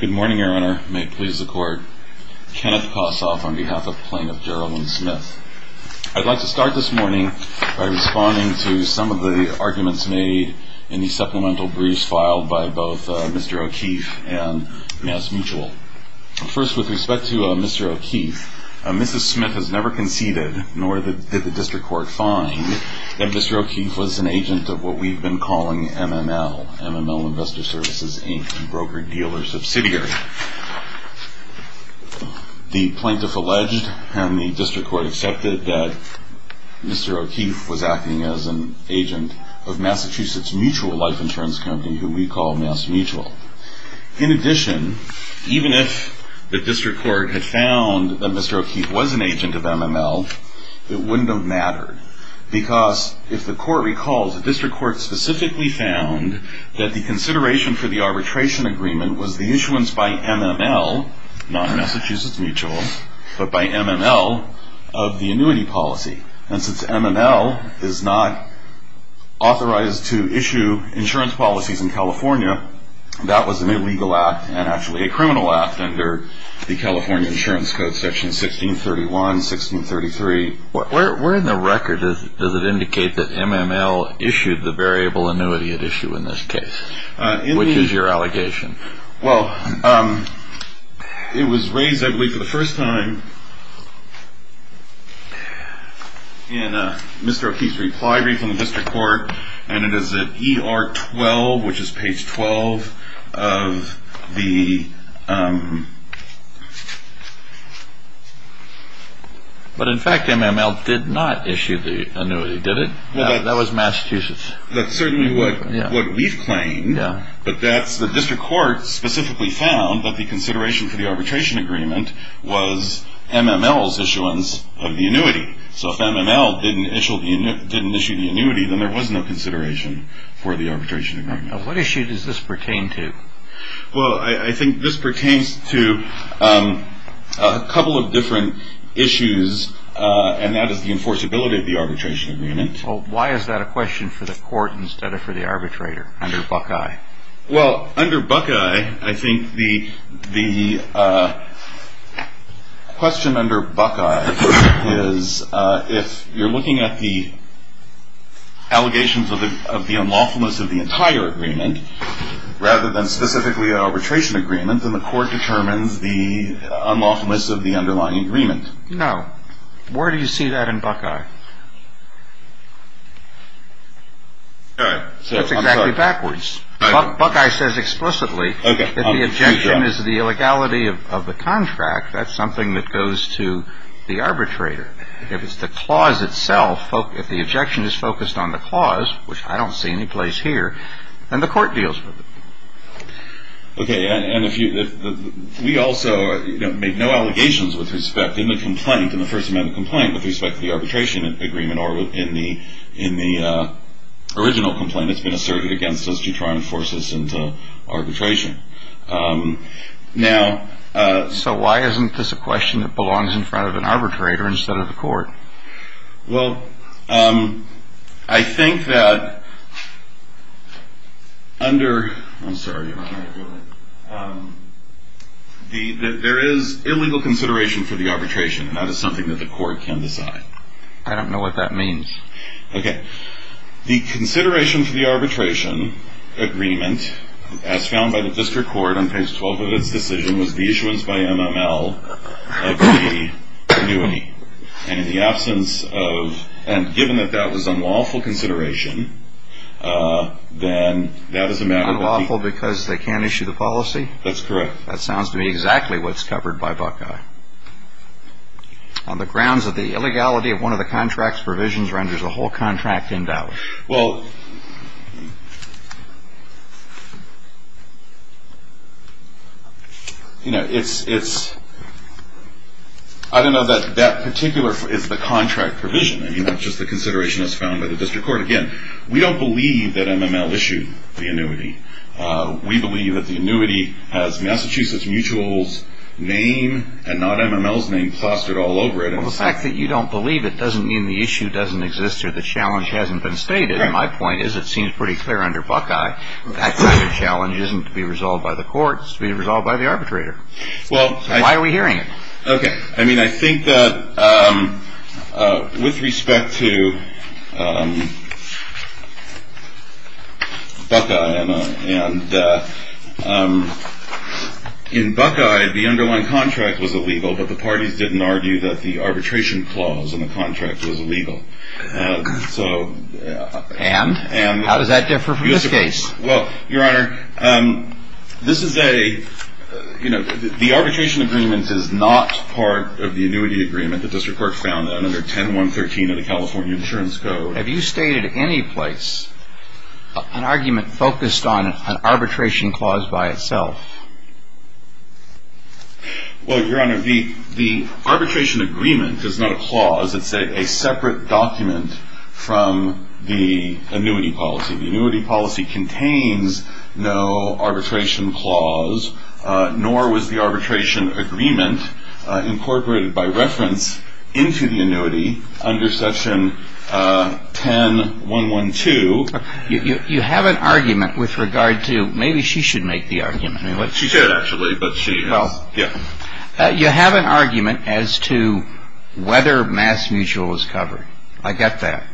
Good morning, Your Honor. May it please the Court, Kenneth Kossoff on behalf of Plaintiff Jeralyn Smith. I'd like to start this morning by responding to some of the arguments made in the supplemental briefs filed by both Mr. O'Keefe and MassMutual. First, with respect to Mr. O'Keefe, Mrs. Smith has never conceded, nor did the District Court find, that Mr. O'Keefe was an agent of what we've been calling MML, MML Investor Services Inc., a broker-dealer subsidiary. The Plaintiff alleged, and the District Court accepted, that Mr. O'Keefe was acting as an agent of Massachusetts Mutual Life Insurance Company, who we call MassMutual. In addition, even if the District Court had found that Mr. O'Keefe was an agent of MML, it wouldn't have mattered, because if the Court recalls, the District Court specifically found that the consideration for the arbitration agreement was the issuance by MML, not Massachusetts Mutual, but by MML, of the annuity policy. And since MML is not authorized to issue insurance policies in California, that was an illegal act, and actually a criminal act, under the California Insurance Code, Section 1631, 1633. Where in the record does it indicate that MML issued the variable annuity it issued in this case? Which is your allegation? Well, it was raised, I believe, for the first time in Mr. O'Keefe's reply brief from the District Court, and it is at ER 12, which is page 12 of the... But in fact, MML did not issue the annuity, did it? That was Massachusetts. That's certainly what we've claimed, but that's the District Court specifically found, that the consideration for the arbitration agreement was MML's issuance of the annuity. So if MML didn't issue the annuity, then there was no consideration for the arbitration agreement. What issue does this pertain to? Well, I think this pertains to a couple of different issues, and that is the enforceability of the arbitration agreement. Well, why is that a question for the Court instead of for the arbitrator, under Buckeye? Well, under Buckeye, I think the question under Buckeye is, if you're looking at the allegations of the unlawfulness of the entire agreement, rather than specifically an arbitration agreement, then the Court determines the unlawfulness of the underlying agreement. No. Where do you see that in Buckeye? That's exactly backwards. Buckeye says explicitly that the objection is the illegality of the contract. That's something that goes to the arbitrator. If it's the clause itself, if the objection is focused on the clause, which I don't see any place here, then the Court deals with it. Okay. And we also make no allegations with respect in the complaint, with respect to the arbitration agreement or in the original complaint that's been asserted against us to try and force us into arbitration. So why isn't this a question that belongs in front of an arbitrator instead of the Court? Well, I think that under – I'm sorry. There is illegal consideration for the arbitration, and that is something that the Court can decide. I don't know what that means. Okay. The consideration for the arbitration agreement, as found by the District Court on page 12 of its decision, was the issuance by MML of the annuity. And in the absence of – and given that that was unlawful consideration, then that is a matter that the – Unlawful because they can't issue the policy? That's correct. That sounds to me exactly what's covered by Buckeye. On the grounds of the illegality of one of the contract's provisions renders the whole contract in doubt. Well, you know, it's – I don't know that that particular is the contract provision. I mean, that's just the consideration that's found by the District Court. Again, we don't believe that MML issued the annuity. We believe that the annuity has Massachusetts Mutual's name and not MML's name plastered all over it. Well, the fact that you don't believe it doesn't mean the issue doesn't exist or the challenge hasn't been stated. And my point is it seems pretty clear under Buckeye that kind of challenge isn't to be resolved by the Court. It's to be resolved by the arbitrator. So why are we hearing it? Okay. I mean, I think that with respect to Buckeye, Emma, and in Buckeye the underlying contract was illegal, but the parties didn't argue that the arbitration clause in the contract was illegal. And? How does that differ from this case? Well, Your Honor, this is a, you know, the arbitration agreement is not part of the annuity agreement that the District Court found under 10.113 of the California Insurance Code. Have you stated any place an argument focused on an arbitration clause by itself? Well, Your Honor, the arbitration agreement is not a clause. It's a separate document from the annuity policy. The annuity policy contains no arbitration clause, nor was the arbitration agreement incorporated by reference into the annuity under section 10.112. You have an argument with regard to maybe she should make the argument. She should actually, but she has. You have an argument as to whether mass mutual is covered. I get that.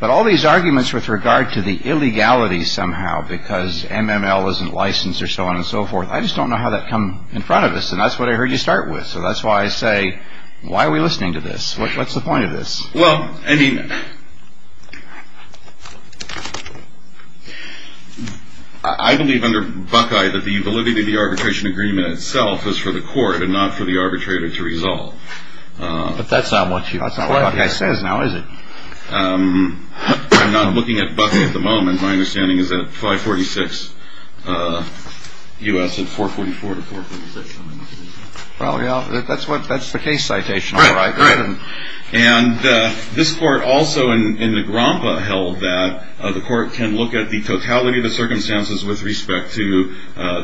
But all these arguments with regard to the illegality somehow, because MML isn't licensed or so on and so forth, I just don't know how that come in front of us. And that's what I heard you start with. So that's why I say, why are we listening to this? What's the point of this? Well, I mean, I believe under Buckeye that the validity of the arbitration agreement itself was for the court and not for the arbitrator to resolve. But that's not what Buckeye says now, is it? I'm not looking at Buckeye at the moment. My understanding is that 546 U.S. and 444 to 446. That's the case citation. And this court also in the GROMPA held that the court can look at the totality of the circumstances with respect to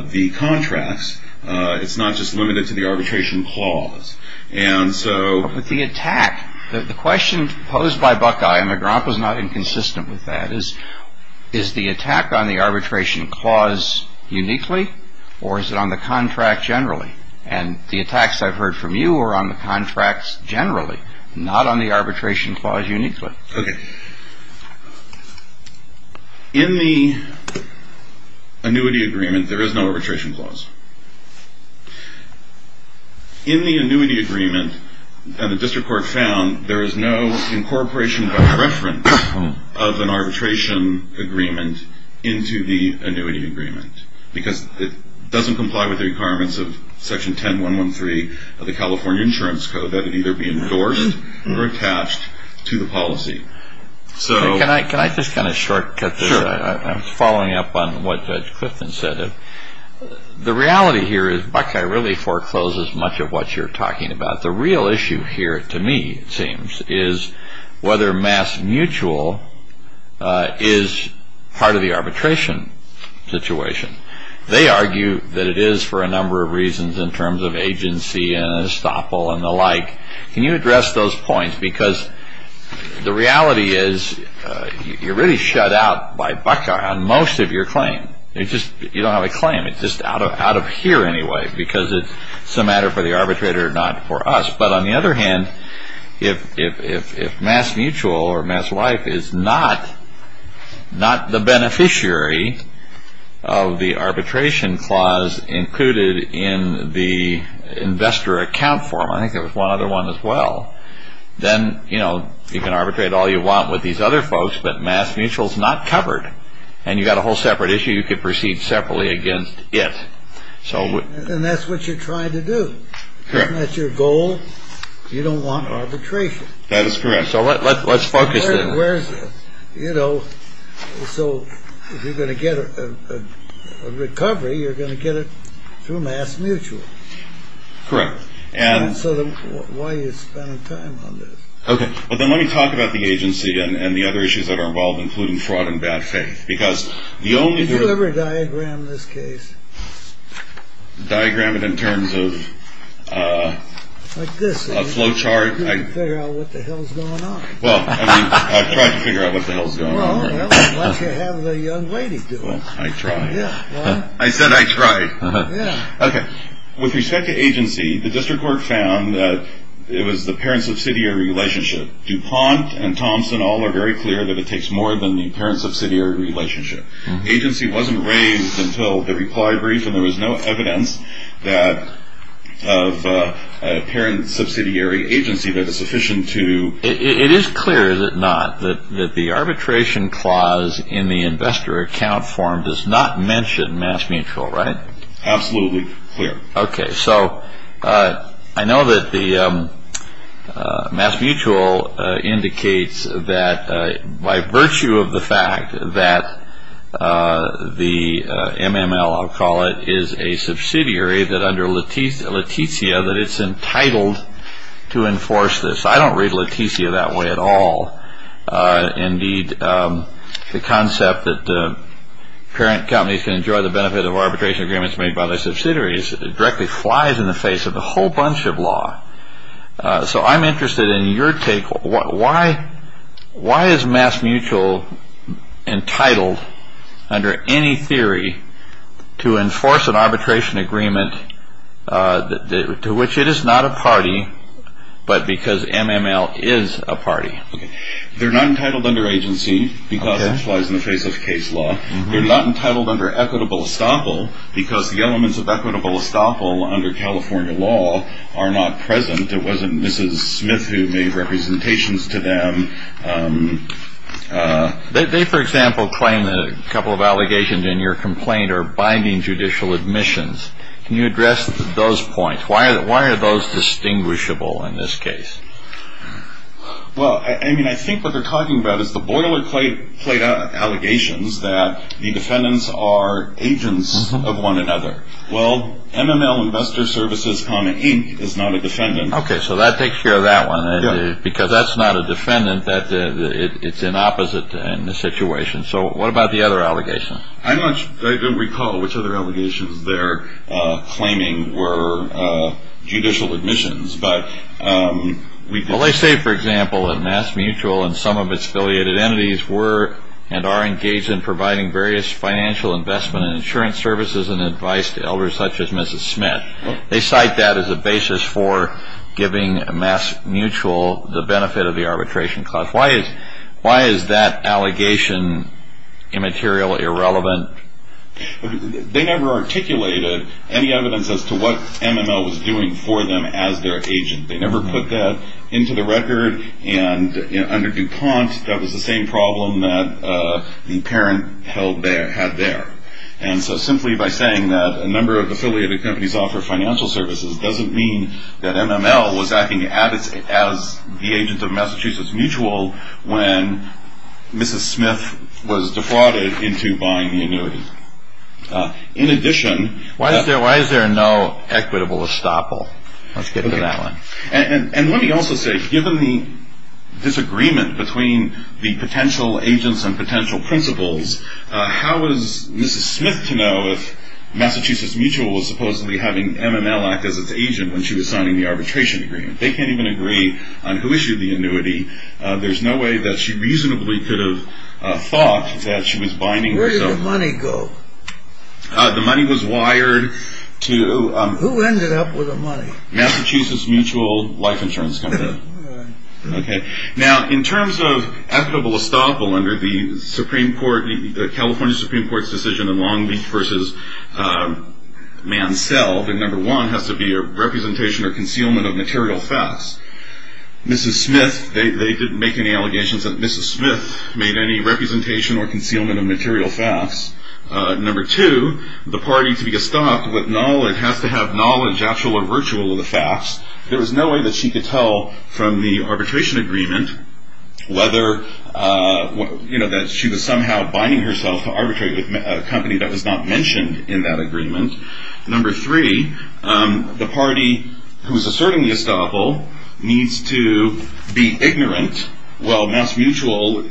the contracts. It's not just limited to the arbitration clause. And so with the attack, the question posed by Buckeye and the GROMPA is not inconsistent with that is, is the attack on the arbitration clause uniquely or is it on the contract generally? And the attacks I've heard from you are on the contracts generally, not on the arbitration clause uniquely. Okay. In the annuity agreement, there is no arbitration clause. In the annuity agreement, and the district court found there is no incorporation by reference of an arbitration agreement into the annuity agreement because it doesn't comply with the requirements of Section 10113 of the California Insurance Code that it either be endorsed or attached to the policy. Can I just kind of shortcut this? I'm following up on what Judge Clifton said. The reality here is Buckeye really forecloses much of what you're talking about. The real issue here to me, it seems, is whether mass mutual is part of the arbitration situation. They argue that it is for a number of reasons in terms of agency and estoppel and the like. Can you address those points? Because the reality is you're really shut out by Buckeye on most of your claim. You don't have a claim. It's just out of here anyway because it's a matter for the arbitrator, not for us. But on the other hand, if mass mutual or mass wife is not the beneficiary of the arbitration clause included in the investor account form, I think there was one other one as well, then you can arbitrate all you want with these other folks, but mass mutual is not covered, and you've got a whole separate issue. You could proceed separately against it. And that's what you're trying to do. Isn't that your goal? You don't want arbitration. That is correct. So let's focus there. So if you're going to get a recovery, you're going to get it through mass mutual. Correct. So why are you spending time on this? Okay. But then let me talk about the agency and the other issues that are involved, including fraud and bad faith. Did you ever diagram this case? Diagram it in terms of a flow chart. Figure out what the hell is going on. Well, I mean, I've tried to figure out what the hell is going on. Well, why don't you have the young lady do it? I tried. I said I tried. Okay. With respect to agency, the district court found that it was the parent-subsidiary relationship. DuPont and Thompson all are very clear that it takes more than the parent-subsidiary relationship. The agency wasn't raised until the reply brief, and there was no evidence of a parent-subsidiary agency that is sufficient to. It is clear, is it not, that the arbitration clause in the investor account form does not mention mass mutual, right? Absolutely clear. Okay, so I know that the mass mutual indicates that by virtue of the fact that the MML, I'll call it, is a subsidiary that under Leticia that it's entitled to enforce this. I don't read Leticia that way at all. Indeed, the concept that parent companies can enjoy the benefit of arbitration agreements made by their subsidiaries directly flies in the face of a whole bunch of law. So I'm interested in your take. Why is mass mutual entitled under any theory to enforce an arbitration agreement to which it is not a party but because MML is a party? They're not entitled under agency because that flies in the face of case law. They're not entitled under equitable estoppel because the elements of equitable estoppel under California law are not present. It wasn't Mrs. Smith who made representations to them. They, for example, claim that a couple of allegations in your complaint are binding judicial admissions. Can you address those points? Why are those distinguishable in this case? Well, I mean, I think what they're talking about is the boilerplate allegations that the defendants are agents of one another. Well, MML Investor Services, Inc. is not a defendant. Okay, so that takes care of that one. Because that's not a defendant. It's an opposite in this situation. So what about the other allegations? I don't recall which other allegations they're claiming were judicial admissions. Well, they say, for example, that mass mutual and some of its affiliated entities were and are engaged in providing various financial investment and insurance services and advice to elders such as Mrs. Smith. They cite that as a basis for giving mass mutual the benefit of the arbitration clause. Why is that allegation immaterial, irrelevant? They never articulated any evidence as to what MML was doing for them as their agent. They never put that into the record. And under DuPont, that was the same problem that the parent had there. And so simply by saying that a number of affiliated companies offer financial services doesn't mean that MML was acting as the agent of Massachusetts Mutual when Mrs. Smith was defrauded into buying the annuity. In addition- Why is there no equitable estoppel? Let's get to that one. And let me also say, given the disagreement between the potential agents and potential principals, how is Mrs. Smith to know if Massachusetts Mutual was supposedly having MML act as its agent when she was signing the arbitration agreement? They can't even agree on who issued the annuity. There's no way that she reasonably could have thought that she was buying- Where did the money go? The money was wired to- Who ended up with the money? Massachusetts Mutual Life Insurance Company. Now, in terms of equitable estoppel under the California Supreme Court's decision in Long Beach v. Mansell, the number one has to be a representation or concealment of material facts. They didn't make any allegations that Mrs. Smith made any representation or concealment of material facts. Number two, the party to be estopped has to have knowledge, actual or virtual, of the facts. There was no way that she could tell from the arbitration agreement that she was somehow buying herself to arbitrate with a company that was not mentioned in that agreement. Number three, the party who is asserting the estoppel needs to be ignorant. Well, MassMutual,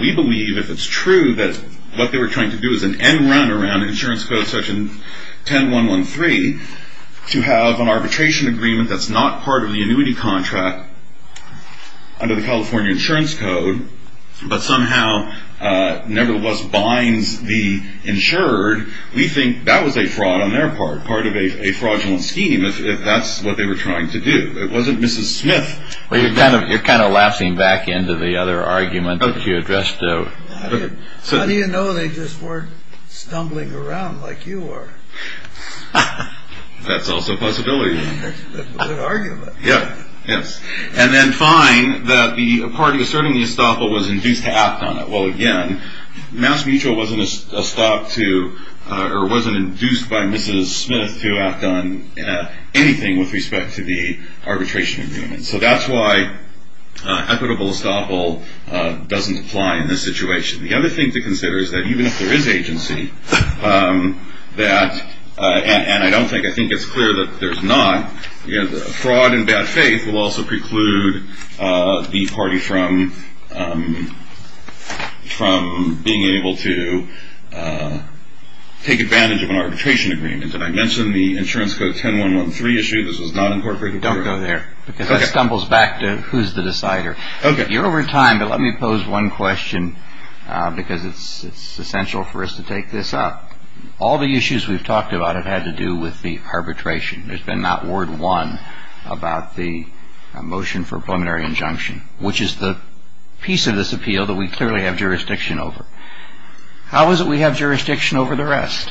we believe if it's true that what they were trying to do is an end run around insurance code section 10113, to have an arbitration agreement that's not part of the annuity contract under the California insurance code, but somehow nevertheless binds the insured, we think that was a fraud on their part, part of a fraudulent scheme if that's what they were trying to do. It wasn't Mrs. Smith- Well, you're kind of lapsing back into the other argument that you addressed, though. How do you know they just weren't stumbling around like you are? That's also a possibility. That's a good argument. Yes. And then find that the party asserting the estoppel was induced to act on it. Well, again, MassMutual wasn't induced by Mrs. Smith to act on anything with respect to the arbitration agreement. So that's why equitable estoppel doesn't apply in this situation. The other thing to consider is that even if there is agency, and I think it's clear that there's not, fraud and bad faith will also preclude the party from being able to take advantage of an arbitration agreement. And I mentioned the insurance code 10113 issue. This was not incorporated. Don't go there because that stumbles back to who's the decider. Okay. You're over time, but let me pose one question because it's essential for us to take this up. All the issues we've talked about have had to do with the arbitration. There's been not word won about the motion for a preliminary injunction, which is the piece of this appeal that we clearly have jurisdiction over. How is it we have jurisdiction over the rest?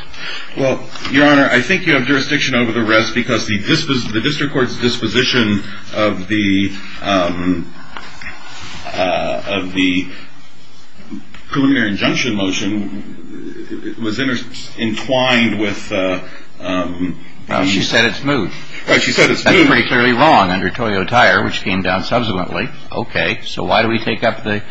Well, Your Honor, I think you have jurisdiction over the rest because the district court's disposition of the preliminary injunction motion was entwined with. She said it's moved. That's pretty clearly wrong under Toyo Tire, which came down subsequently. Okay. So why do we take up the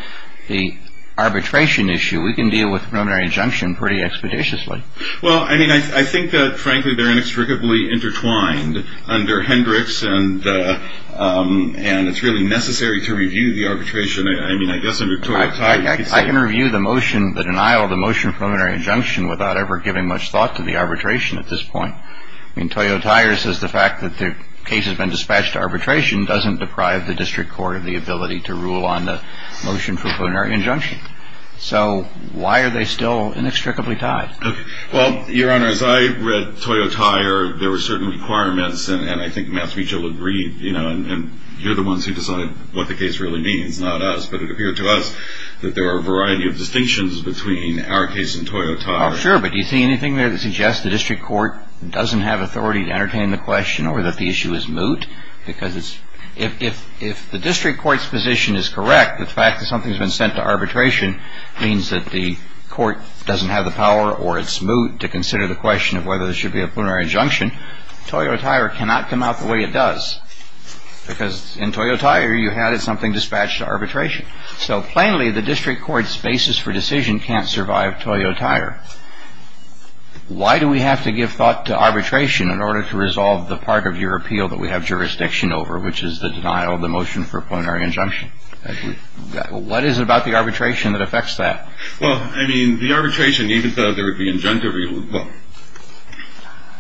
arbitration issue? We can deal with preliminary injunction pretty expeditiously. Well, I mean, I think that, frankly, they're inextricably intertwined under Hendricks. And and it's really necessary to review the arbitration. I mean, I guess I can review the motion, the denial of the motion, preliminary injunction without ever giving much thought to the arbitration at this point. I mean, Toyo Tire says the fact that the case has been dispatched to arbitration doesn't deprive the district court of the ability to rule on the motion for preliminary injunction. So why are they still inextricably tied? Well, Your Honor, as I read Toyo Tire, there were certain requirements. And I think Matt Spiegel agreed, you know, and you're the ones who decide what the case really means, not us. But it appeared to us that there are a variety of distinctions between our case and Toyo Tire. Oh, sure. But do you see anything there that suggests the district court doesn't have authority to entertain the question or that the issue is moot? Because if the district court's position is correct, the fact that something's been sent to arbitration means that the court doesn't have the power or its moot to consider the question of whether there should be a preliminary injunction. Toyo Tire cannot come out the way it does, because in Toyo Tire you had something dispatched to arbitration. So plainly, the district court's basis for decision can't survive Toyo Tire. Why do we have to give thought to arbitration in order to resolve the part of your appeal that we have jurisdiction over, which is the denial of the motion for preliminary injunction? What is it about the arbitration that affects that? Well, I mean, the arbitration, even though there would be injunctive,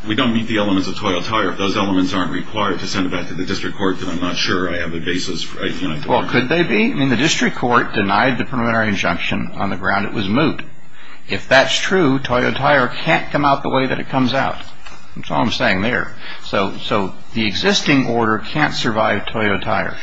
we don't meet the elements of Toyo Tire. If those elements aren't required to send it back to the district court, then I'm not sure I have a basis. Well, could they be? I mean, the district court denied the preliminary injunction on the ground it was moot. If that's true, Toyo Tire can't come out the way that it comes out. That's all I'm saying there. So the existing order can't survive Toyo Tire.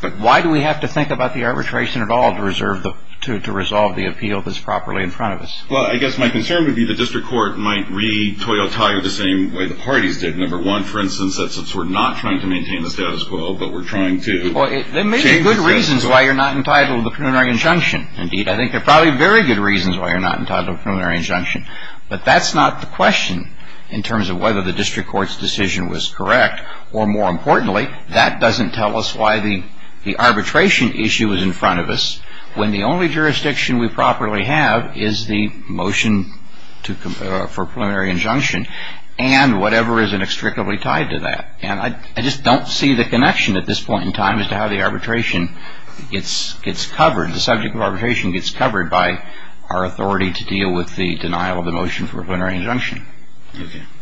But why do we have to think about the arbitration at all to resolve the appeal that's properly in front of us? Well, I guess my concern would be the district court might re-Toyo Tire the same way the parties did. Number one, for instance, since we're not trying to maintain the status quo, but we're trying to change the status quo. Well, there may be good reasons why you're not entitled to a preliminary injunction. Indeed, I think there are probably very good reasons why you're not entitled to a preliminary injunction. But that's not the question in terms of whether the district court's decision was correct. Or more importantly, that doesn't tell us why the arbitration issue is in front of us when the only jurisdiction we properly have is the motion for a preliminary injunction and whatever is inextricably tied to that. And I just don't see the connection at this point in time as to how the arbitration gets covered, the subject of arbitration gets covered by our authority to deal with the denial of the motion for a preliminary injunction.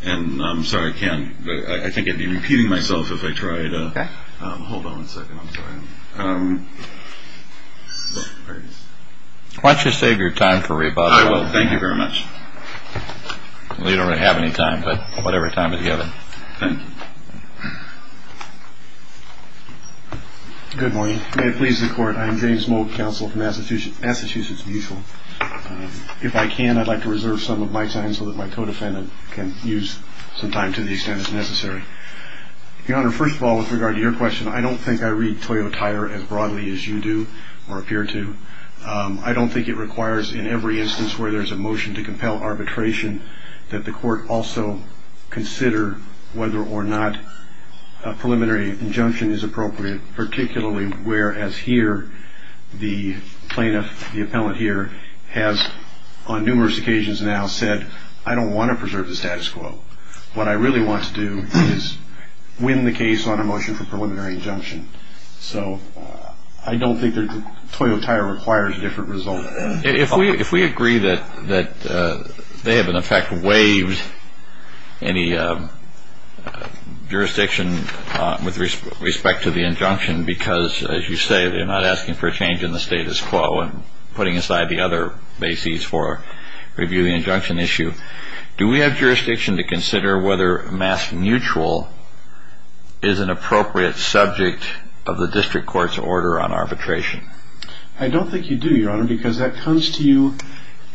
And I'm sorry, I can't. I think I'd be repeating myself if I tried. Hold on one second. I'm sorry. Why don't you save your time for rebuttal? Thank you very much. We don't have any time, but whatever time is given. Good morning. May it please the court. I'm James Moak, counsel from Massachusetts, Massachusetts Mutual. If I can, I'd like to reserve some of my time so that my co-defendant can use some time to the extent that's necessary. Your Honor, first of all, with regard to your question, I don't think I read Toyo Tire as broadly as you do or appear to. I don't think it requires in every instance where there's a motion to compel arbitration that the court also consider whether or not a preliminary injunction is appropriate, particularly whereas here the plaintiff, the appellant here, has on numerous occasions now said, I don't want to preserve the status quo. What I really want to do is win the case on a motion for preliminary injunction. So I don't think Toyo Tire requires a different result. If we agree that they have in effect waived any jurisdiction with respect to the injunction because, as you say, they're not asking for a change in the status quo and putting aside the other bases for reviewing the injunction issue, do we have jurisdiction to consider whether mass mutual is an appropriate subject of the district court's order on arbitration? I don't think you do, Your Honor, because that comes to you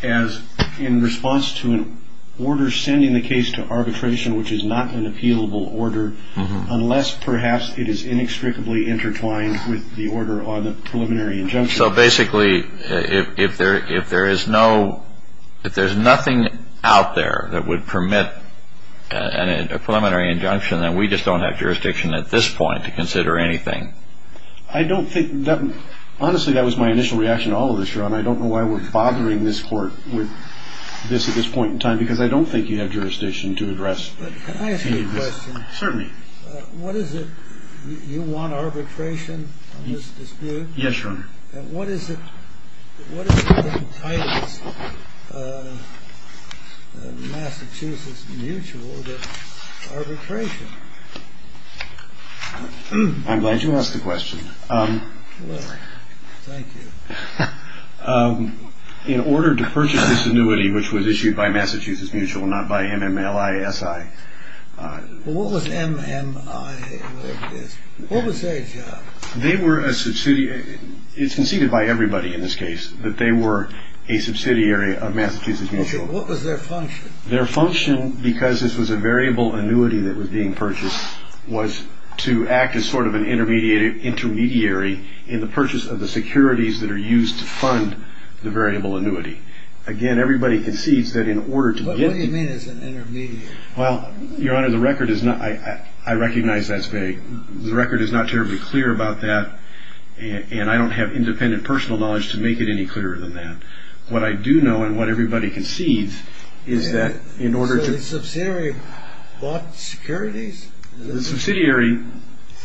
as in response to an order sending the case to arbitration, which is not an appealable order, unless perhaps it is inextricably intertwined with the order on the preliminary injunction. So basically, if there is no – if there's nothing out there that would permit a preliminary injunction, then we just don't have jurisdiction at this point to consider anything. I don't think – honestly, that was my initial reaction to all of this, Your Honor. I don't know why we're bothering this court with this at this point in time because I don't think you have jurisdiction to address. But can I ask you a question? Certainly. What is it – you want arbitration on this dispute? Yes, Your Honor. What is it that entitles Massachusetts Mutual to arbitration? I'm glad you asked the question. Well, thank you. In order to purchase this annuity, which was issued by Massachusetts Mutual, not by MMLISI – Well, what was MMI? What was their job? They were a – it's conceded by everybody in this case that they were a subsidiary of Massachusetts Mutual. What was their function? Their function, because this was a variable annuity that was being purchased, was to act as sort of an intermediary in the purchase of the securities that are used to fund the variable annuity. Again, everybody concedes that in order to get – What do you mean as an intermediary? Well, Your Honor, the record is not – I recognize that's vague. The record is not terribly clear about that, and I don't have independent personal knowledge to make it any clearer than that. What I do know, and what everybody concedes, is that in order to – So the subsidiary bought securities? The subsidiary,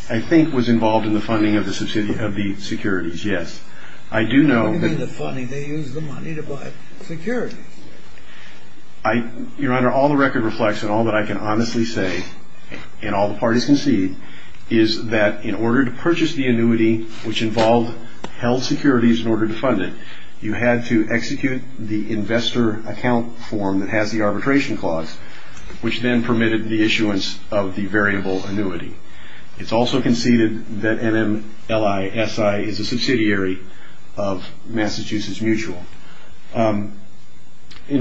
I think, was involved in the funding of the securities, yes. I do know that – What do you mean the funding? They used the money to buy securities. I – Your Honor, all the record reflects, and all that I can honestly say, and all the parties concede, is that in order to purchase the annuity, which involved held securities in order to fund it, you had to execute the investor account form that has the arbitration clause, which then permitted the issuance of the variable annuity. It's also conceded that MLSI is a subsidiary of Massachusetts Mutual. In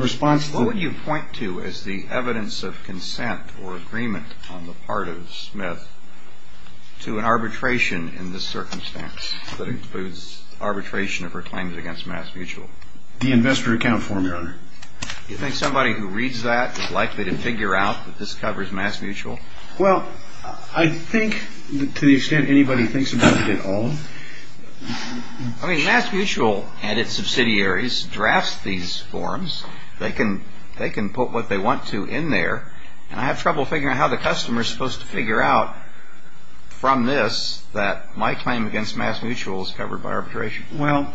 response to – What would you point to as the evidence of consent or agreement on the part of Smith to an arbitration in this circumstance that includes arbitration of her claims against MassMutual? The investor account form, Your Honor. Do you think somebody who reads that is likely to figure out that this covers MassMutual? Well, I think to the extent anybody thinks about it at all. I mean, MassMutual and its subsidiaries draft these forms. They can put what they want to in there, and I have trouble figuring out how the customer is supposed to figure out from this that my claim against MassMutual is covered by arbitration. Well,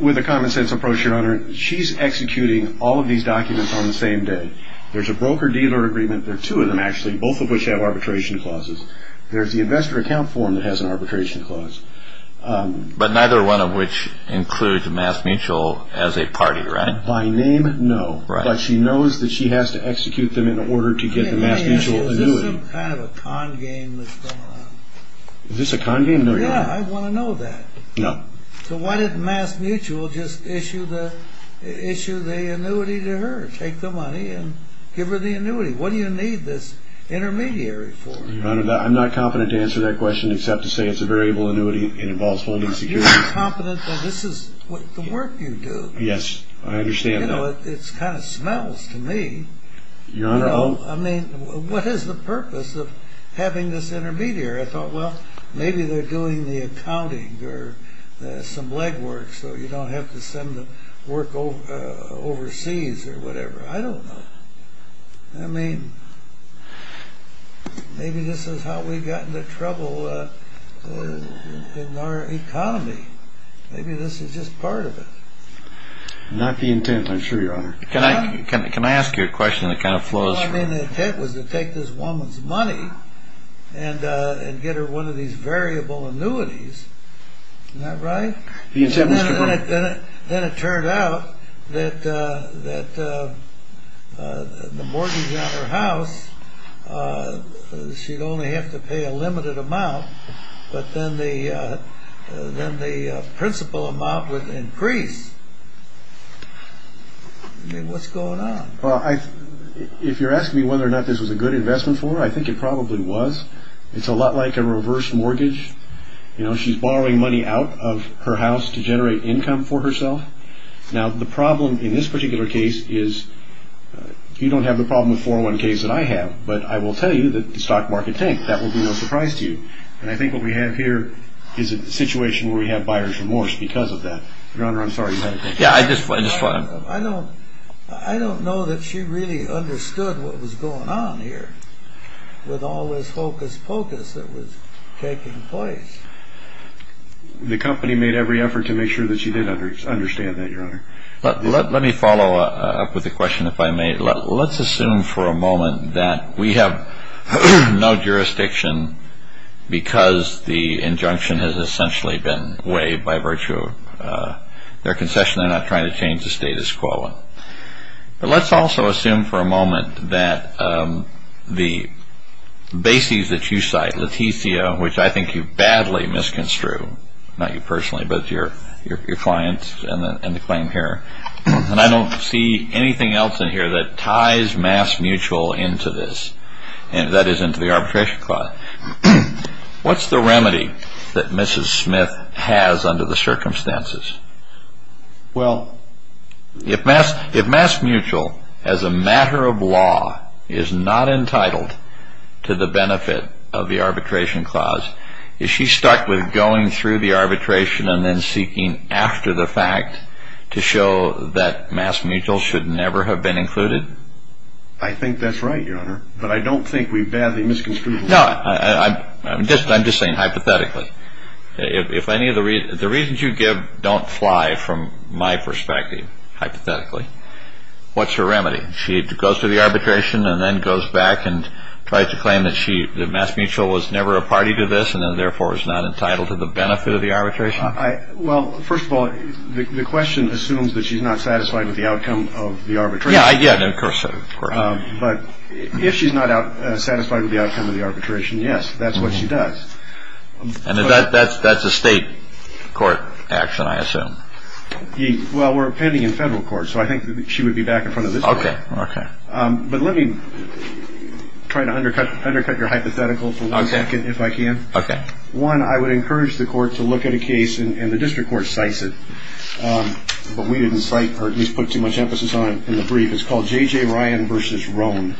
with a common sense approach, Your Honor, she's executing all of these documents on the same day. There's a broker-dealer agreement. There are two of them, actually, both of which have arbitration clauses. There's the investor account form that has an arbitration clause. But neither one of which includes MassMutual as a party, right? By name, no. But she knows that she has to execute them in order to get the MassMutual annuity. Is this some kind of a con game that's going on? Is this a con game? Yeah, I want to know that. So why didn't MassMutual just issue the annuity to her, take the money and give her the annuity? What do you need this intermediary for? Your Honor, I'm not confident to answer that question except to say it's a variable annuity and involves holding security. You're confident that this is the work you do. Yes, I understand that. You know, it kind of smells to me. Your Honor, I mean, what is the purpose of having this intermediary? I thought, well, maybe they're doing the accounting or some legwork so you don't have to send the work overseas or whatever. I don't know. I mean, maybe this is how we got into trouble in our economy. Maybe this is just part of it. Not the intent, I'm sure, Your Honor. Can I ask you a question that kind of flows from it? Well, I mean, the intent was to take this woman's money and get her one of these variable annuities. Isn't that right? The intent was to bring... Then it turned out that the mortgage on her house, she'd only have to pay a limited amount, but then the principal amount would increase. I mean, what's going on? Well, if you're asking me whether or not this was a good investment for her, I think it probably was. It's a lot like a reverse mortgage. You know, she's borrowing money out of her house to generate income for herself. Now, the problem in this particular case is, you don't have the problem with 401ks that I have, but I will tell you that the stock market tanked. That will be no surprise to you, and I think what we have here is a situation where we have buyer's remorse because of that. Your Honor, I'm sorry. Yeah, I just want to... I don't know that she really understood what was going on here with all this hocus-pocus that was taking place. The company made every effort to make sure that she did understand that, Your Honor. Let me follow up with a question, if I may. Let's assume for a moment that we have no jurisdiction because the injunction has essentially been waived by virtue of their concession. They're not trying to change the status quo. But let's also assume for a moment that the bases that you cite, Leticia, which I think you badly misconstrued, not you personally, but your clients and the claim here, and I don't see anything else in here that ties MassMutual into this, and that is into the arbitration clause. What's the remedy that Mrs. Smith has under the circumstances? Well, if MassMutual, as a matter of law, is not entitled to the benefit of the arbitration clause, is she stuck with going through the arbitration and then seeking after the fact to show that MassMutual should never have been included? I think that's right, Your Honor, but I don't think we badly misconstrued it. No, I'm just saying hypothetically. The reasons you give don't fly from my perspective, hypothetically. What's her remedy? She goes through the arbitration and then goes back and tries to claim that MassMutual was never a party to this and therefore is not entitled to the benefit of the arbitration? Well, first of all, the question assumes that she's not satisfied with the outcome of the arbitration. Yeah, of course. But if she's not satisfied with the outcome of the arbitration, yes, that's what she does. That's a state court action, I assume. Well, we're pending in federal court, so I think she would be back in front of this court. But let me try to undercut your hypothetical for one second, if I can. Okay. One, I would encourage the court to look at a case, and the district court cites it, but we didn't cite or at least put too much emphasis on it in the brief. It's called J.J. Ryan v. Roan,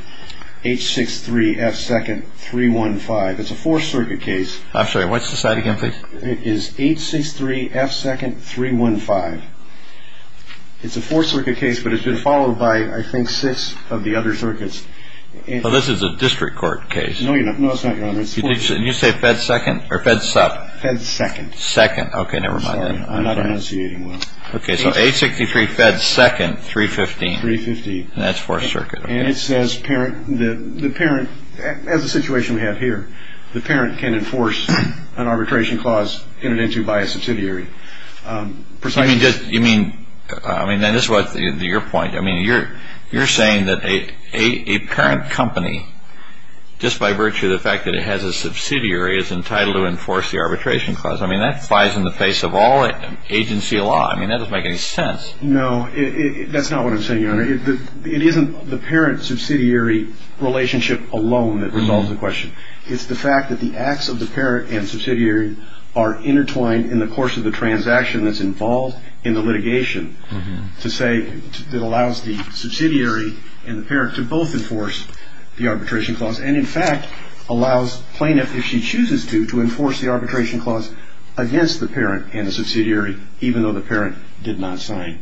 H. 6-3, F. 2nd, 315. It's a Fourth Circuit case. I'm sorry, what's the site again, please? It is H. 6-3, F. 2nd, 315. It's a Fourth Circuit case, but it's been followed by, I think, six of the other circuits. Well, this is a district court case. No, it's not, Your Honor. Did you say F. 2nd or F. 2nd? F. 2nd. 2nd. Okay, never mind then. I'm sorry, I'm not enunciating well. Okay, so H. 6-3, F. 2nd, 315. 350. And that's Fourth Circuit. And it says the parent, as the situation we have here, the parent can enforce an arbitration clause in and into by a subsidiary. You mean, I mean, this is your point. I mean, you're saying that a parent company, just by virtue of the fact that it has a subsidiary, is entitled to enforce the arbitration clause. I mean, that flies in the face of all agency law. I mean, that doesn't make any sense. No, that's not what I'm saying, Your Honor. It isn't the parent-subsidiary relationship alone that resolves the question. It's the fact that the acts of the parent and subsidiary are intertwined in the course of the transaction that's involved in the litigation, to say that allows the subsidiary and the parent to both enforce the arbitration clause and, in fact, allows plaintiff, if she chooses to, to enforce the arbitration clause against the parent and the subsidiary, even though the parent did not sign.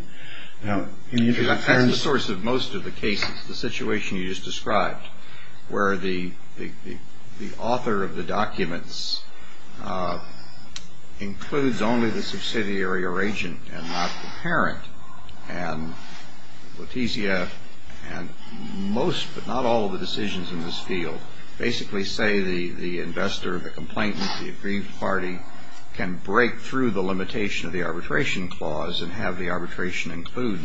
Now, in the interest of fairness. In the source of most of the cases, the situation you just described, where the author of the documents includes only the subsidiary or agent and not the parent, and Letizia and most but not all of the decisions in this field basically say the investor, the complainant, the aggrieved party can break through the limitation of the arbitration clause and have the arbitration include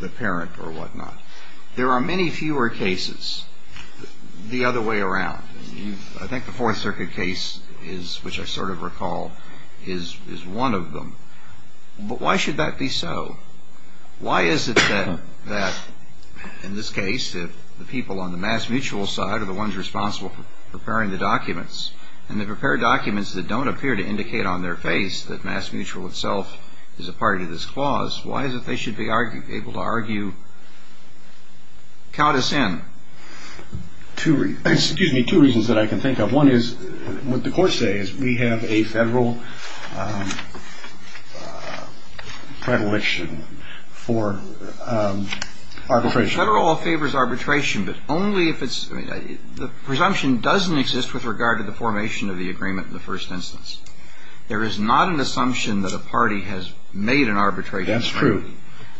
the parent or whatnot. There are many fewer cases the other way around. I think the Fourth Circuit case, which I sort of recall, is one of them. But why should that be so? Why is it then that, in this case, if the people on the mass mutual side are the ones responsible for preparing the documents, and they prepare documents that don't appear to indicate on their face that mass mutual itself is a part of this clause, why is it they should be able to argue? Count us in. Excuse me. Two reasons that I can think of. One is what the Court says. We have a Federal predilection for arbitration. Federal all favors arbitration. The presumption doesn't exist with regard to the formation of the agreement in the first instance. There is not an assumption that a party has made an arbitration. That's true.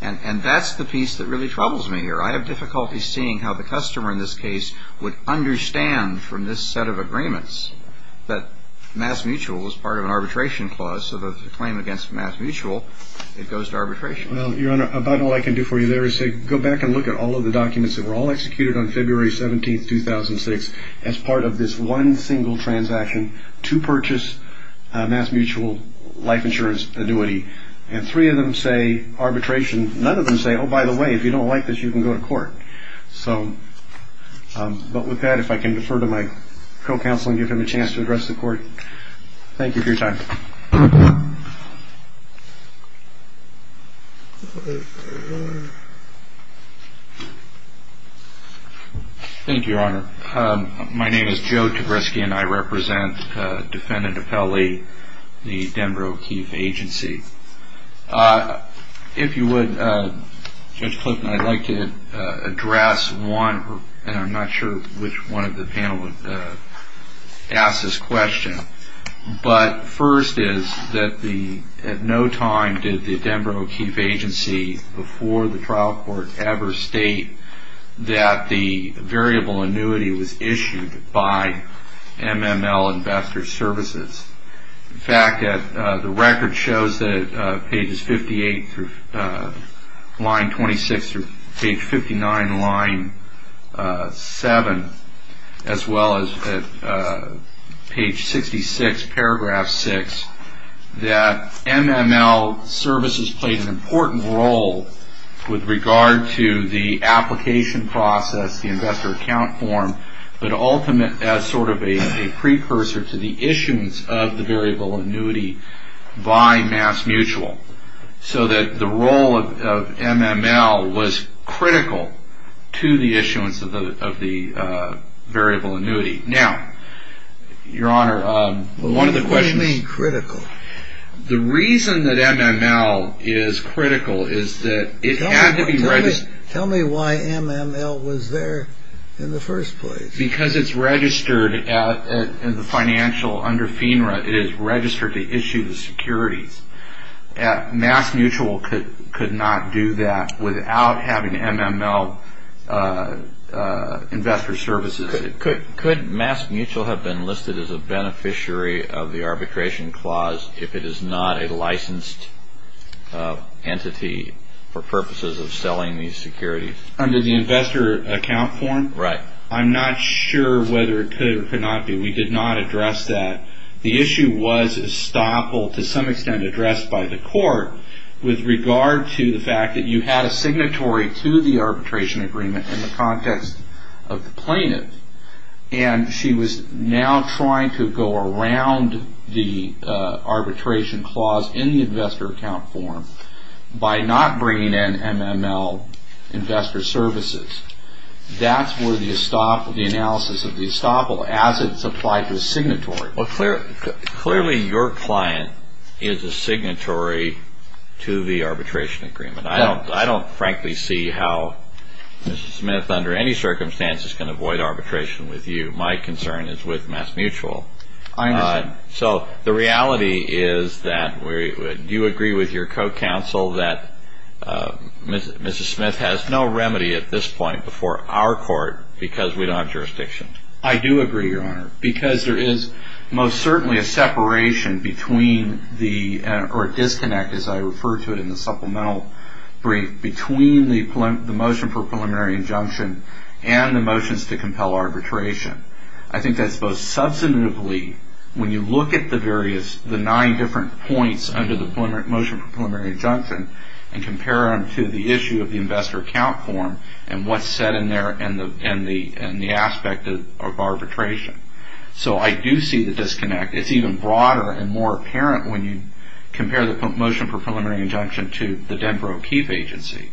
And that's the piece that really troubles me here. I have difficulty seeing how the customer in this case would understand from this set of agreements that mass mutual is part of an arbitration clause. So the claim against mass mutual, it goes to arbitration. Well, Your Honor, about all I can do for you there is to go back and look at all of the documents that were all executed on February 17, 2006, as part of this one single transaction to purchase mass mutual life insurance annuity. And three of them say arbitration. None of them say, oh, by the way, if you don't like this, you can go to court. But with that, if I can defer to my co-counsel and give him a chance to address the Court. Thank you for your time. Thank you, Your Honor. My name is Joe Tabreski, and I represent Defendant Apelli, the Denver O'Keeffe Agency. If you would, Judge Clifton, I'd like to address one, and I'm not sure which one of the panel would ask this question. But first is that at no time did the Denver O'Keeffe Agency, before the trial court ever, state that the variable annuity was issued by MML Investor Services. In fact, the record shows that at pages 58 through line 26 through page 59, line 7, as well as at page 66, paragraph 6, that MML Services played an important role with regard to the application process, but ultimately as sort of a precursor to the issuance of the variable annuity by MassMutual, so that the role of MML was critical to the issuance of the variable annuity. Now, Your Honor, one of the questions... What do you mean critical? The reason that MML is critical is that it had to be registered... Tell me why MML was there in the first place. Because it's registered in the financial under FINRA. It is registered to issue the securities. MassMutual could not do that without having MML Investor Services. Could MassMutual have been listed as a beneficiary of the arbitration clause if it is not a licensed entity for purposes of selling these securities? Under the investor account form? Right. I'm not sure whether it could or could not be. We did not address that. The issue was estoppel to some extent addressed by the court with regard to the fact that you had a signatory to the arbitration agreement in the context of the plaintiff, and she was now trying to go around the arbitration clause in the investor account form by not bringing in MML Investor Services. That's where the analysis of the estoppel, as it's applied to a signatory... Clearly, your client is a signatory to the arbitration agreement. I don't frankly see how Mrs. Smith, under any circumstances, can avoid arbitration with you. My concern is with MassMutual. I understand. So the reality is that do you agree with your co-counsel that Mrs. Smith has no remedy at this point before our court because we don't have jurisdiction? I do agree, Your Honor, because there is most certainly a separation between the or a disconnect, as I refer to it in the supplemental brief, between the motion for preliminary injunction and the motions to compel arbitration. I think that's both substantively when you look at the nine different points under the motion for preliminary injunction and compare them to the issue of the investor account form and what's said in there and the aspect of arbitration. So I do see the disconnect. It's even broader and more apparent when you compare the motion for preliminary injunction to the Denver O'Keefe agency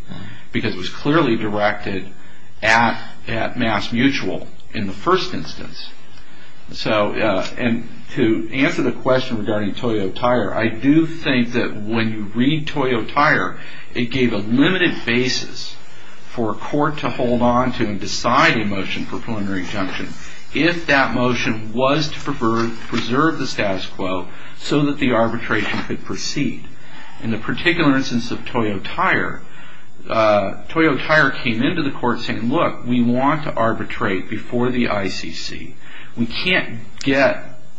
because it was clearly directed at MassMutual in the first instance. And to answer the question regarding Toyo Tire, I do think that when you read Toyo Tire, it gave a limited basis for a court to hold on to and decide a motion for preliminary injunction. If that motion was to preserve the status quo so that the arbitration could proceed. In the particular instance of Toyo Tire, Toyo Tire came into the court saying, look, we want to arbitrate before the ICC.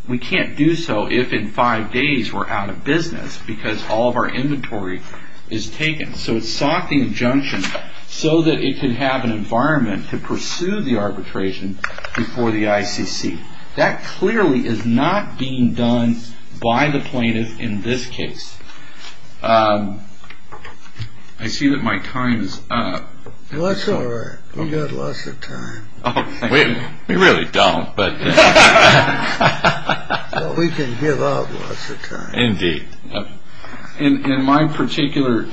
We can't do so if in five days we're out of business because all of our inventory is taken. So it sought the injunction so that it could have an environment to pursue the arbitration before the ICC. That clearly is not being done by the plaintiff in this case. I see that my time is up. Well, that's all right. We've got lots of time. We really don't. We can give up lots of time. Indeed. In my particular,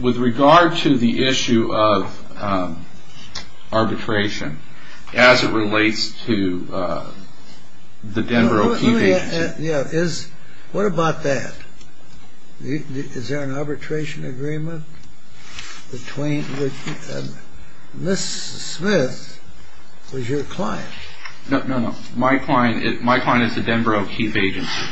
with regard to the issue of arbitration, as it relates to the Denver O'Keefe Agency. What about that? Is there an arbitration agreement? Ms. Smith was your client. No, my client is the Denver O'Keefe Agency.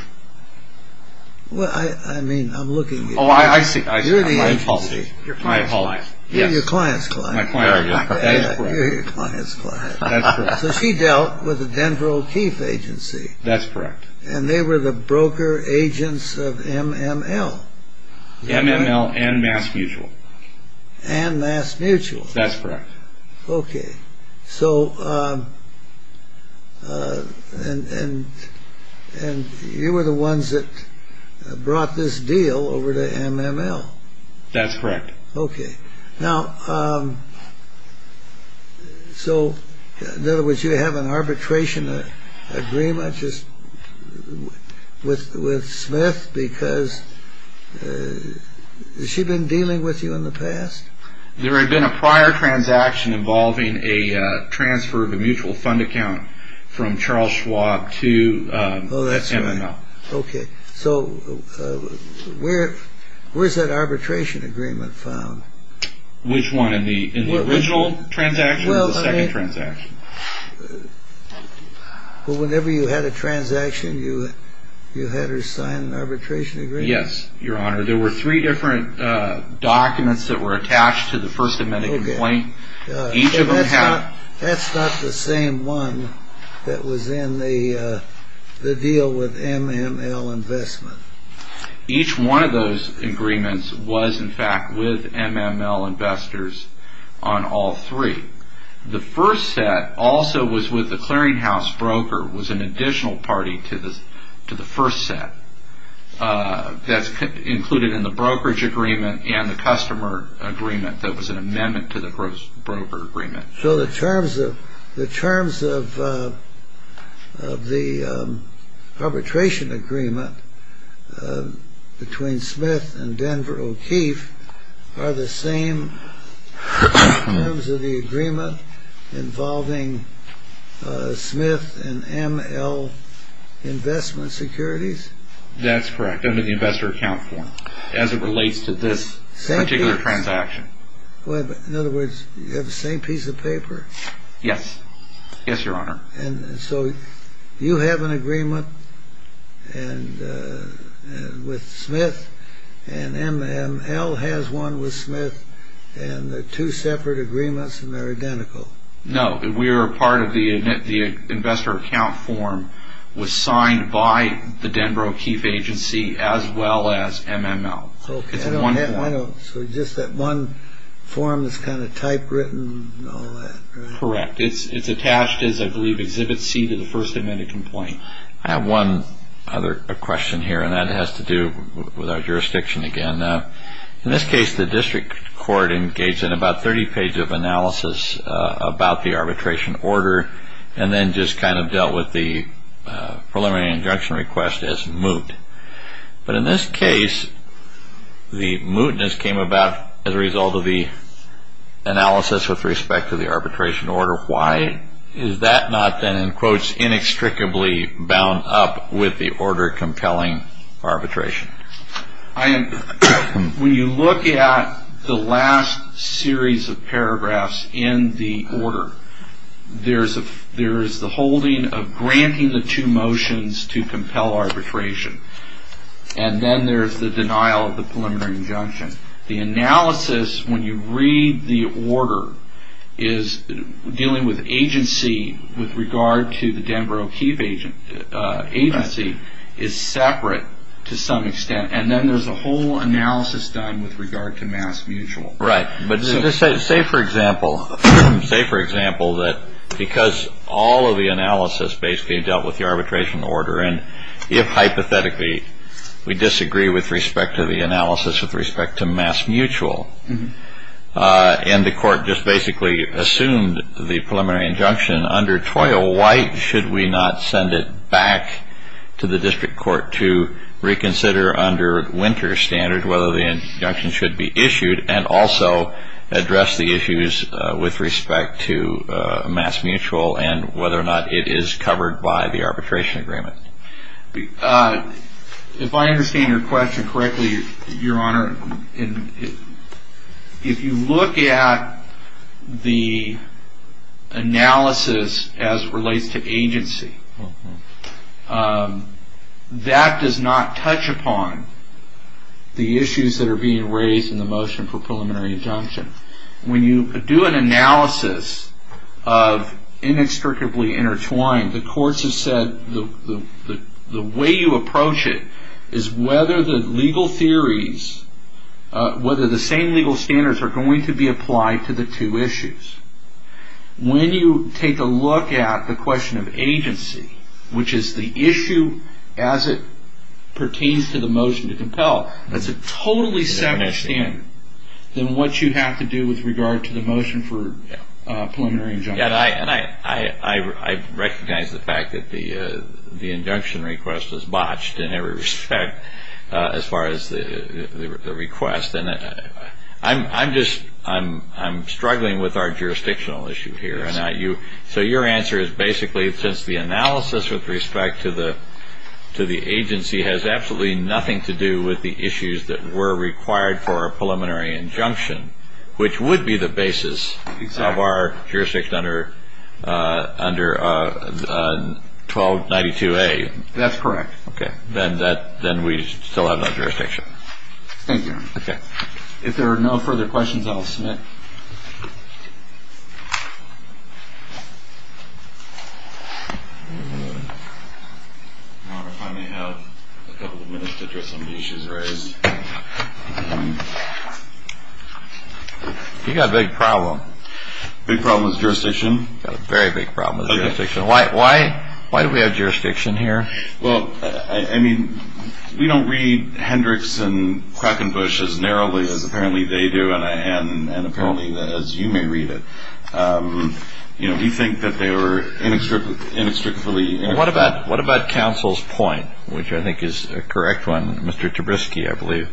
Well, I mean, I'm looking. Oh, I see. You're the agency. Your client's client. You're your client's client. My client. That is correct. You're your client's client. That's correct. So she dealt with the Denver O'Keefe Agency. That's correct. And they were the broker agents of MML. MML and Mass Mutual. And Mass Mutual. That's correct. Okay. So, and you were the ones that brought this deal over to MML. That's correct. Okay. Now, so, in other words, you have an arbitration agreement with Smith because, has she been dealing with you in the past? There had been a prior transaction involving a transfer of a mutual fund account from Charles Schwab to MML. Oh, that's right. Okay. So where's that arbitration agreement found? Which one? In the original transaction or the second transaction? Well, whenever you had a transaction, you had her sign an arbitration agreement? Yes, Your Honor. There were three different documents that were attached to the first amended complaint. Each of them had- That's not the same one that was in the deal with MML Investment. Each one of those agreements was, in fact, with MML Investors on all three. The first set also was with the clearinghouse broker, was an additional party to the first set. That's included in the brokerage agreement and the customer agreement that was an amendment to the broker agreement. So the terms of the arbitration agreement between Smith and Denver O'Keefe are the same in terms of the agreement involving Smith and ML Investment Securities? That's correct, under the investor account form as it relates to this particular transaction. In other words, you have the same piece of paper? Yes. Yes, Your Honor. And so you have an agreement with Smith and MML has one with Smith and they're two separate agreements and they're identical? No, we are part of the investor account form was signed by the Denver O'Keefe agency as well as MML. So just that one form that's kind of typewritten and all that, right? Correct. It's attached as, I believe, Exhibit C to the first amended complaint. I have one other question here and that has to do with our jurisdiction again. In this case, the district court engaged in about 30 pages of analysis about the arbitration order and then just kind of dealt with the preliminary injunction request as moot. But in this case, the mootness came about as a result of the analysis with respect to the arbitration order. Why is that not then, in quotes, inextricably bound up with the order compelling arbitration? When you look at the last series of paragraphs in the order, there is the holding of granting the two motions to compel arbitration. And then there's the denial of the preliminary injunction. The analysis, when you read the order, is dealing with agency with regard to the Denver O'Keefe agency is separate to some extent. And then there's a whole analysis done with regard to mass mutual. Right. But say, for example, that because all of the analysis basically dealt with the arbitration order, and if hypothetically we disagree with respect to the analysis with respect to mass mutual, and the court just basically assumed the preliminary injunction under toil, why should we not send it back to the district court to reconsider under winter standards whether the injunction should be issued and also address the issues with respect to mass mutual and whether or not it is covered by the arbitration agreement? If I understand your question correctly, Your Honor, if you look at the analysis as it relates to agency, that does not touch upon the issues that are being raised in the motion for preliminary injunction. When you do an analysis of inextricably intertwined, the courts have said the way you approach it is whether the legal theories, whether the same legal standards are going to be applied to the two issues. When you take a look at the question of agency, which is the issue as it pertains to the motion to compel, that's a totally separate standard than what you have to do with regard to the motion for preliminary injunction. And I recognize the fact that the injunction request was botched in every respect as far as the request. I'm struggling with our jurisdictional issue here. So your answer is basically since the analysis with respect to the agency has absolutely nothing to do with the issues that were required for a preliminary injunction, which would be the basis of our jurisdiction under 1292A. That's correct. Then we still have no jurisdiction. Thank you. OK. If there are no further questions, I'll submit. I finally have a couple of minutes to address some of the issues raised. You got a big problem. Big problem with jurisdiction. Very big problem with jurisdiction. Why? Why do we have jurisdiction here? Well, I mean, we don't read Hendricks and Krakenbusch as narrowly as apparently they do and apparently as you may read it. You know, we think that they were inextricably intertwined. What about counsel's point, which I think is a correct one, Mr. Tabriski, I believe.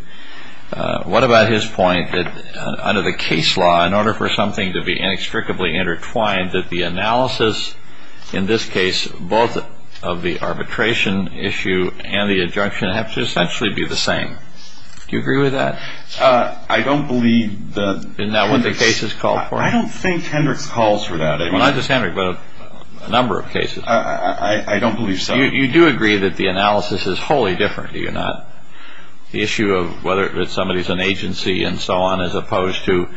What about his point that under the case law, in order for something to be inextricably intertwined, that the analysis, in this case, both of the arbitration issue and the injunction have to essentially be the same. Do you agree with that? I don't believe that Hendricks. In that what the cases call for. I don't think Hendricks calls for that. Not just Hendricks, but a number of cases. I don't believe so. You do agree that the analysis is wholly different, do you not? The issue of whether somebody is an agency and so on, as opposed to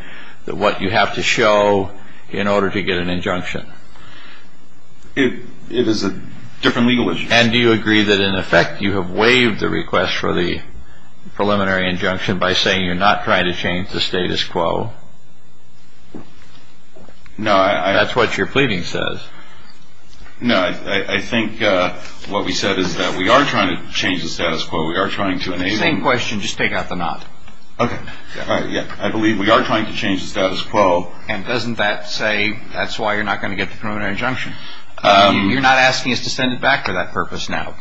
what you have to show in order to get an injunction. It is a different legal issue. And do you agree that, in effect, you have waived the request for the preliminary injunction by saying you're not trying to change the status quo? No. That's what your pleading says. No, I think what we said is that we are trying to change the status quo. We are trying to enable. Same question. Just take out the not. Okay. I believe we are trying to change the status quo. And doesn't that say that's why you're not going to get the preliminary injunction? You're not asking us to send it back for that purpose now.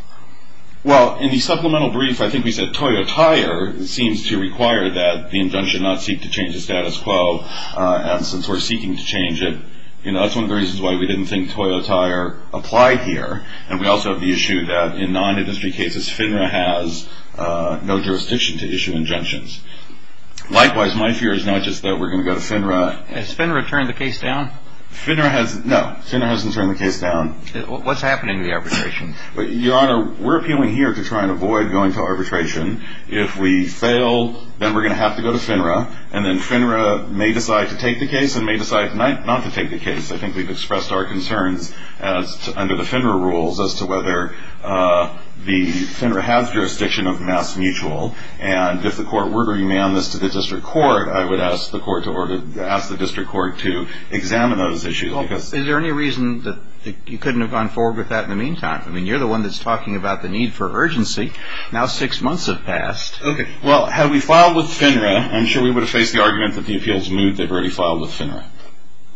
Well, in the supplemental brief, I think we said Toyo Tire seems to require that the injunction not seek to change the status quo. And since we're seeking to change it, that's one of the reasons why we didn't think Toyo Tire applied here. And we also have the issue that in non-industry cases, FINRA has no jurisdiction to issue injunctions. Likewise, my fear is not just that we're going to go to FINRA. Has FINRA turned the case down? FINRA hasn't. No. FINRA hasn't turned the case down. What's happening in the arbitration? Your Honor, we're appealing here to try and avoid going to arbitration. If we fail, then we're going to have to go to FINRA. And then FINRA may decide to take the case and may decide not to take the case. I think we've expressed our concerns under the FINRA rules as to whether the FINRA has jurisdiction of mass mutual. And if the court were to remand this to the district court, I would ask the district court to examine those issues. Is there any reason that you couldn't have gone forward with that in the meantime? I mean, you're the one that's talking about the need for urgency. Now six months have passed. Okay. Well, had we filed with FINRA, I'm sure we would have faced the argument that the appeals moot they've already filed with FINRA.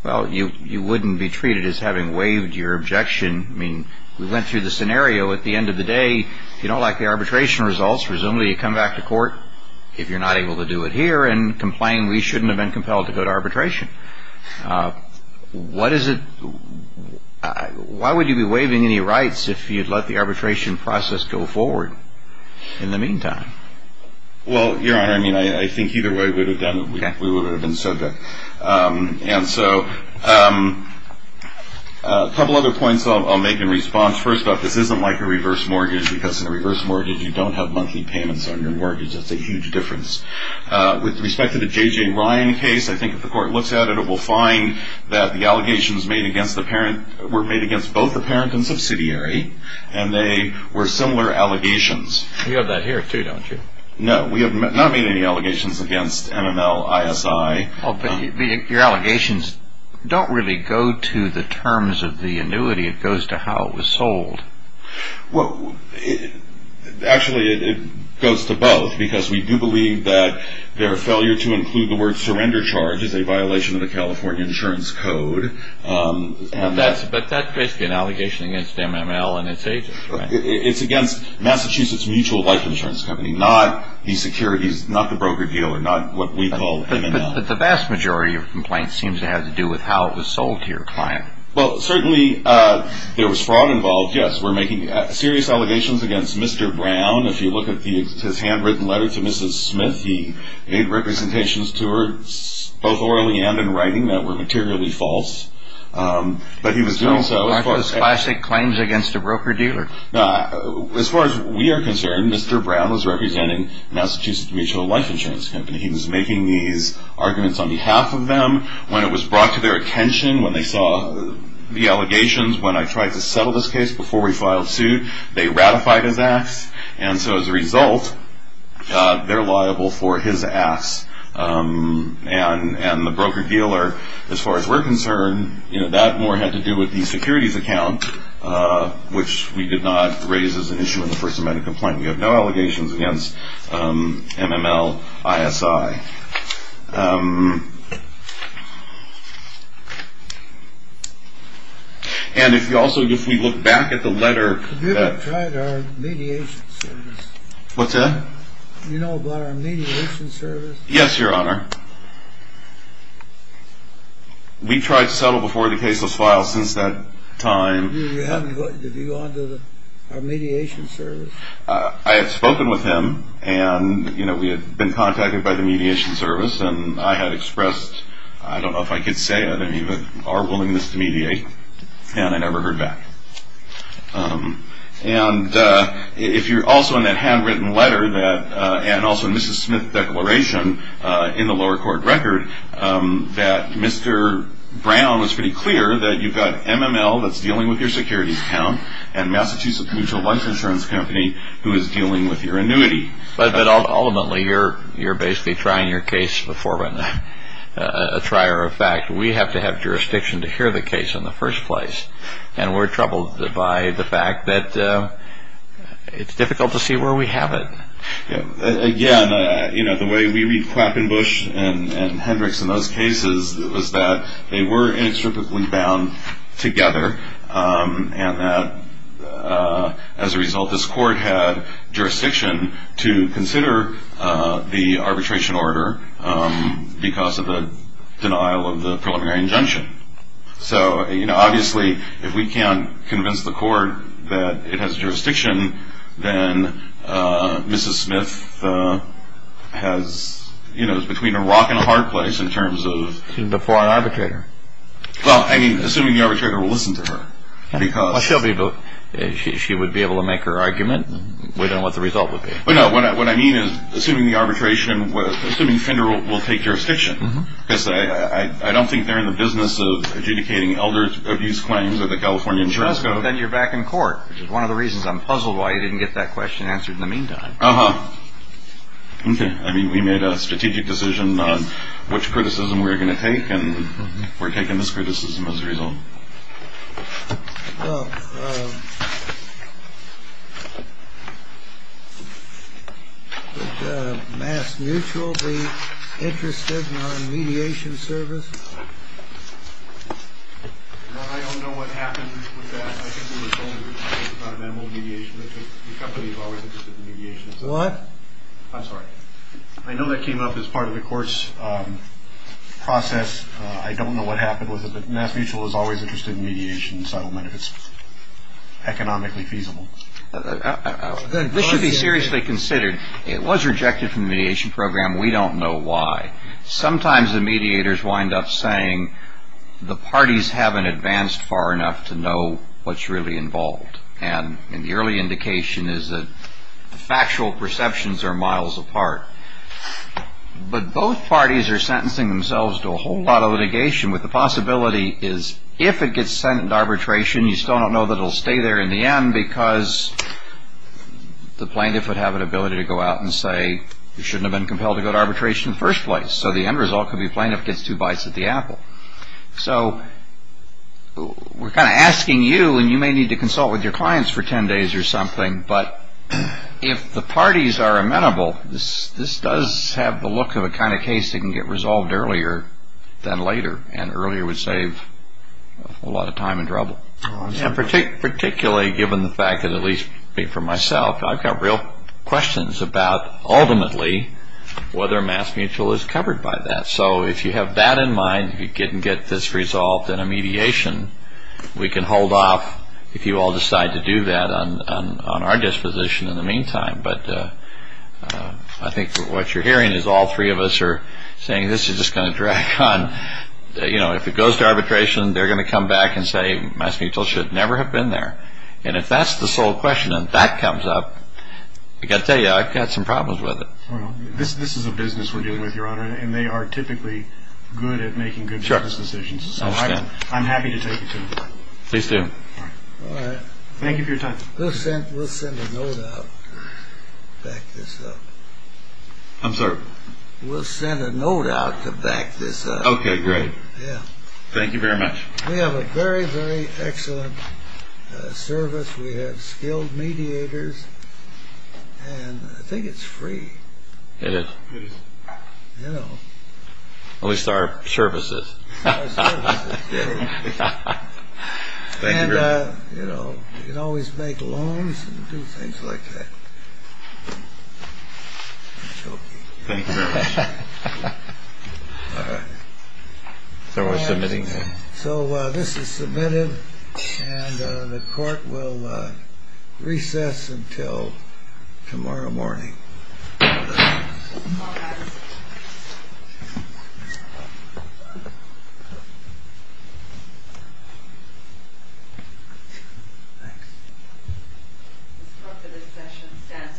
Well, you wouldn't be treated as having waived your objection. I mean, we went through the scenario. At the end of the day, if you don't like the arbitration results, presumably you come back to court if you're not able to do it here and complain we shouldn't have been compelled to go to arbitration. What is it – why would you be waiving any rights if you'd let the arbitration process go forward in the meantime? Well, Your Honor, I mean, I think either way we would have done it. We would have been subject. And so a couple other points I'll make in response. First off, this isn't like a reverse mortgage because in a reverse mortgage you don't have monthly payments on your mortgage. That's a huge difference. With respect to the J.J. Ryan case, I think if the court looks at it, it will find that the allegations made against the parent were made against both the parent and subsidiary, and they were similar allegations. You have that here too, don't you? No, we have not made any allegations against MML, ISI. But your allegations don't really go to the terms of the annuity. It goes to how it was sold. Well, actually it goes to both because we do believe that their failure to include the word surrender charge is a violation of the California Insurance Code. But that's basically an allegation against MML and its agents, right? It's against Massachusetts Mutual Life Insurance Company, not the securities, not the broker dealer, not what we call MML. But the vast majority of complaints seem to have to do with how it was sold to your client. Well, certainly there was fraud involved, yes. We're making serious allegations against Mr. Brown. If you look at his handwritten letter to Mrs. Smith, he made representations to her both orally and in writing that were materially false. Aren't those classic claims against a broker dealer? As far as we are concerned, Mr. Brown was representing Massachusetts Mutual Life Insurance Company. He was making these arguments on behalf of them. When it was brought to their attention, when they saw the allegations, when I tried to settle this case before we filed suit, they ratified his acts. And so as a result, they're liable for his acts. And the broker dealer, as far as we're concerned, that more had to do with the securities account, which we did not raise as an issue in the First Amendment complaint. We have no allegations against MML, ISI. And if you also, if we look back at the letter that- Have you ever tried our mediation service? What's that? You know about our mediation service? Yes, Your Honor. We tried to settle before the case was filed since that time. Have you gone to our mediation service? I had spoken with him, and we had been contacted by the mediation service, and I had expressed, I don't know if I could say it, our willingness to mediate, and I never heard back. And if you're also in that handwritten letter, and also in Mrs. Smith's declaration in the lower court record, that Mr. Brown was pretty clear that you've got MML that's dealing with your securities account and Massachusetts Mutual Lunch Insurance Company, who is dealing with your annuity. But ultimately, you're basically trying your case before a trier of fact. We have to have jurisdiction to hear the case in the first place, and we're troubled by the fact that it's difficult to see where we have it. Again, the way we read Clappenbush and Hendricks in those cases was that they were inextricably bound together, and that as a result this court had jurisdiction to consider the arbitration order because of the denial of the preliminary injunction. So obviously, if we can't convince the court that it has jurisdiction, then Mrs. Smith is between a rock and a hard place in terms of... She's before an arbitrator. Well, I mean, assuming the arbitrator will listen to her because... Well, she would be able to make her argument. We don't know what the result would be. No, what I mean is assuming Fender will take jurisdiction because I don't think they're in the business of adjudicating elder abuse claims at the California Insurance Code. Then you're back in court, which is one of the reasons I'm puzzled why you didn't get that question answered in the meantime. Uh-huh. Okay. I mean, we made a strategic decision on which criticism we were going to take, and we're taking this criticism as a result. Well, would Mass Mutual be interested in a mediation service? Well, I don't know what happened with that. I think we were told about an annual mediation. The company is always interested in mediation. What? I'm sorry. I know that came up as part of the court's process. I don't know what happened with it, but Mass Mutual is always interested in mediation and settlement if it's economically feasible. This should be seriously considered. It was rejected from the mediation program. We don't know why. Sometimes the mediators wind up saying the parties haven't advanced far enough to know what's really involved. And the early indication is that the factual perceptions are miles apart. But both parties are sentencing themselves to a whole lot of litigation, with the possibility is if it gets sent into arbitration, you still don't know that it will stay there in the end because the plaintiff would have an ability to go out and say it shouldn't have been compelled to go to arbitration in the first place. So the end result could be the plaintiff gets two bites at the apple. So we're kind of asking you, and you may need to consult with your clients for ten days or something, but if the parties are amenable, this does have the look of a kind of case that can get resolved earlier than later, and earlier would save a whole lot of time and trouble. Particularly given the fact that, at least for myself, I've got real questions about ultimately whether Mass Mutual is covered by that. So if you have that in mind, if you can get this resolved in a mediation, we can hold off if you all decide to do that on our disposition in the meantime. But I think what you're hearing is all three of us are saying this is just going to drag on. If it goes to arbitration, they're going to come back and say Mass Mutual should never have been there. And if that's the sole question and that comes up, I've got to tell you, I've got some problems with it. This is a business we're dealing with, Your Honor, and they are typically good at making good business decisions. So I'm happy to take it to them. Please do. All right. Thank you for your time. We'll send a note out to back this up. I'm sorry? We'll send a note out to back this up. Okay, great. Yeah. Thank you very much. We have a very, very excellent service. We have skilled mediators, and I think it's free. It is. It is. You know. At least our service is. Our service is free. Thank you very much. And, you know, you can always make loans and do things like that. I'm joking. Thank you very much. All right. So we're submitting? And the court will recess until tomorrow morning. Thanks. This court for this session stands adjourned.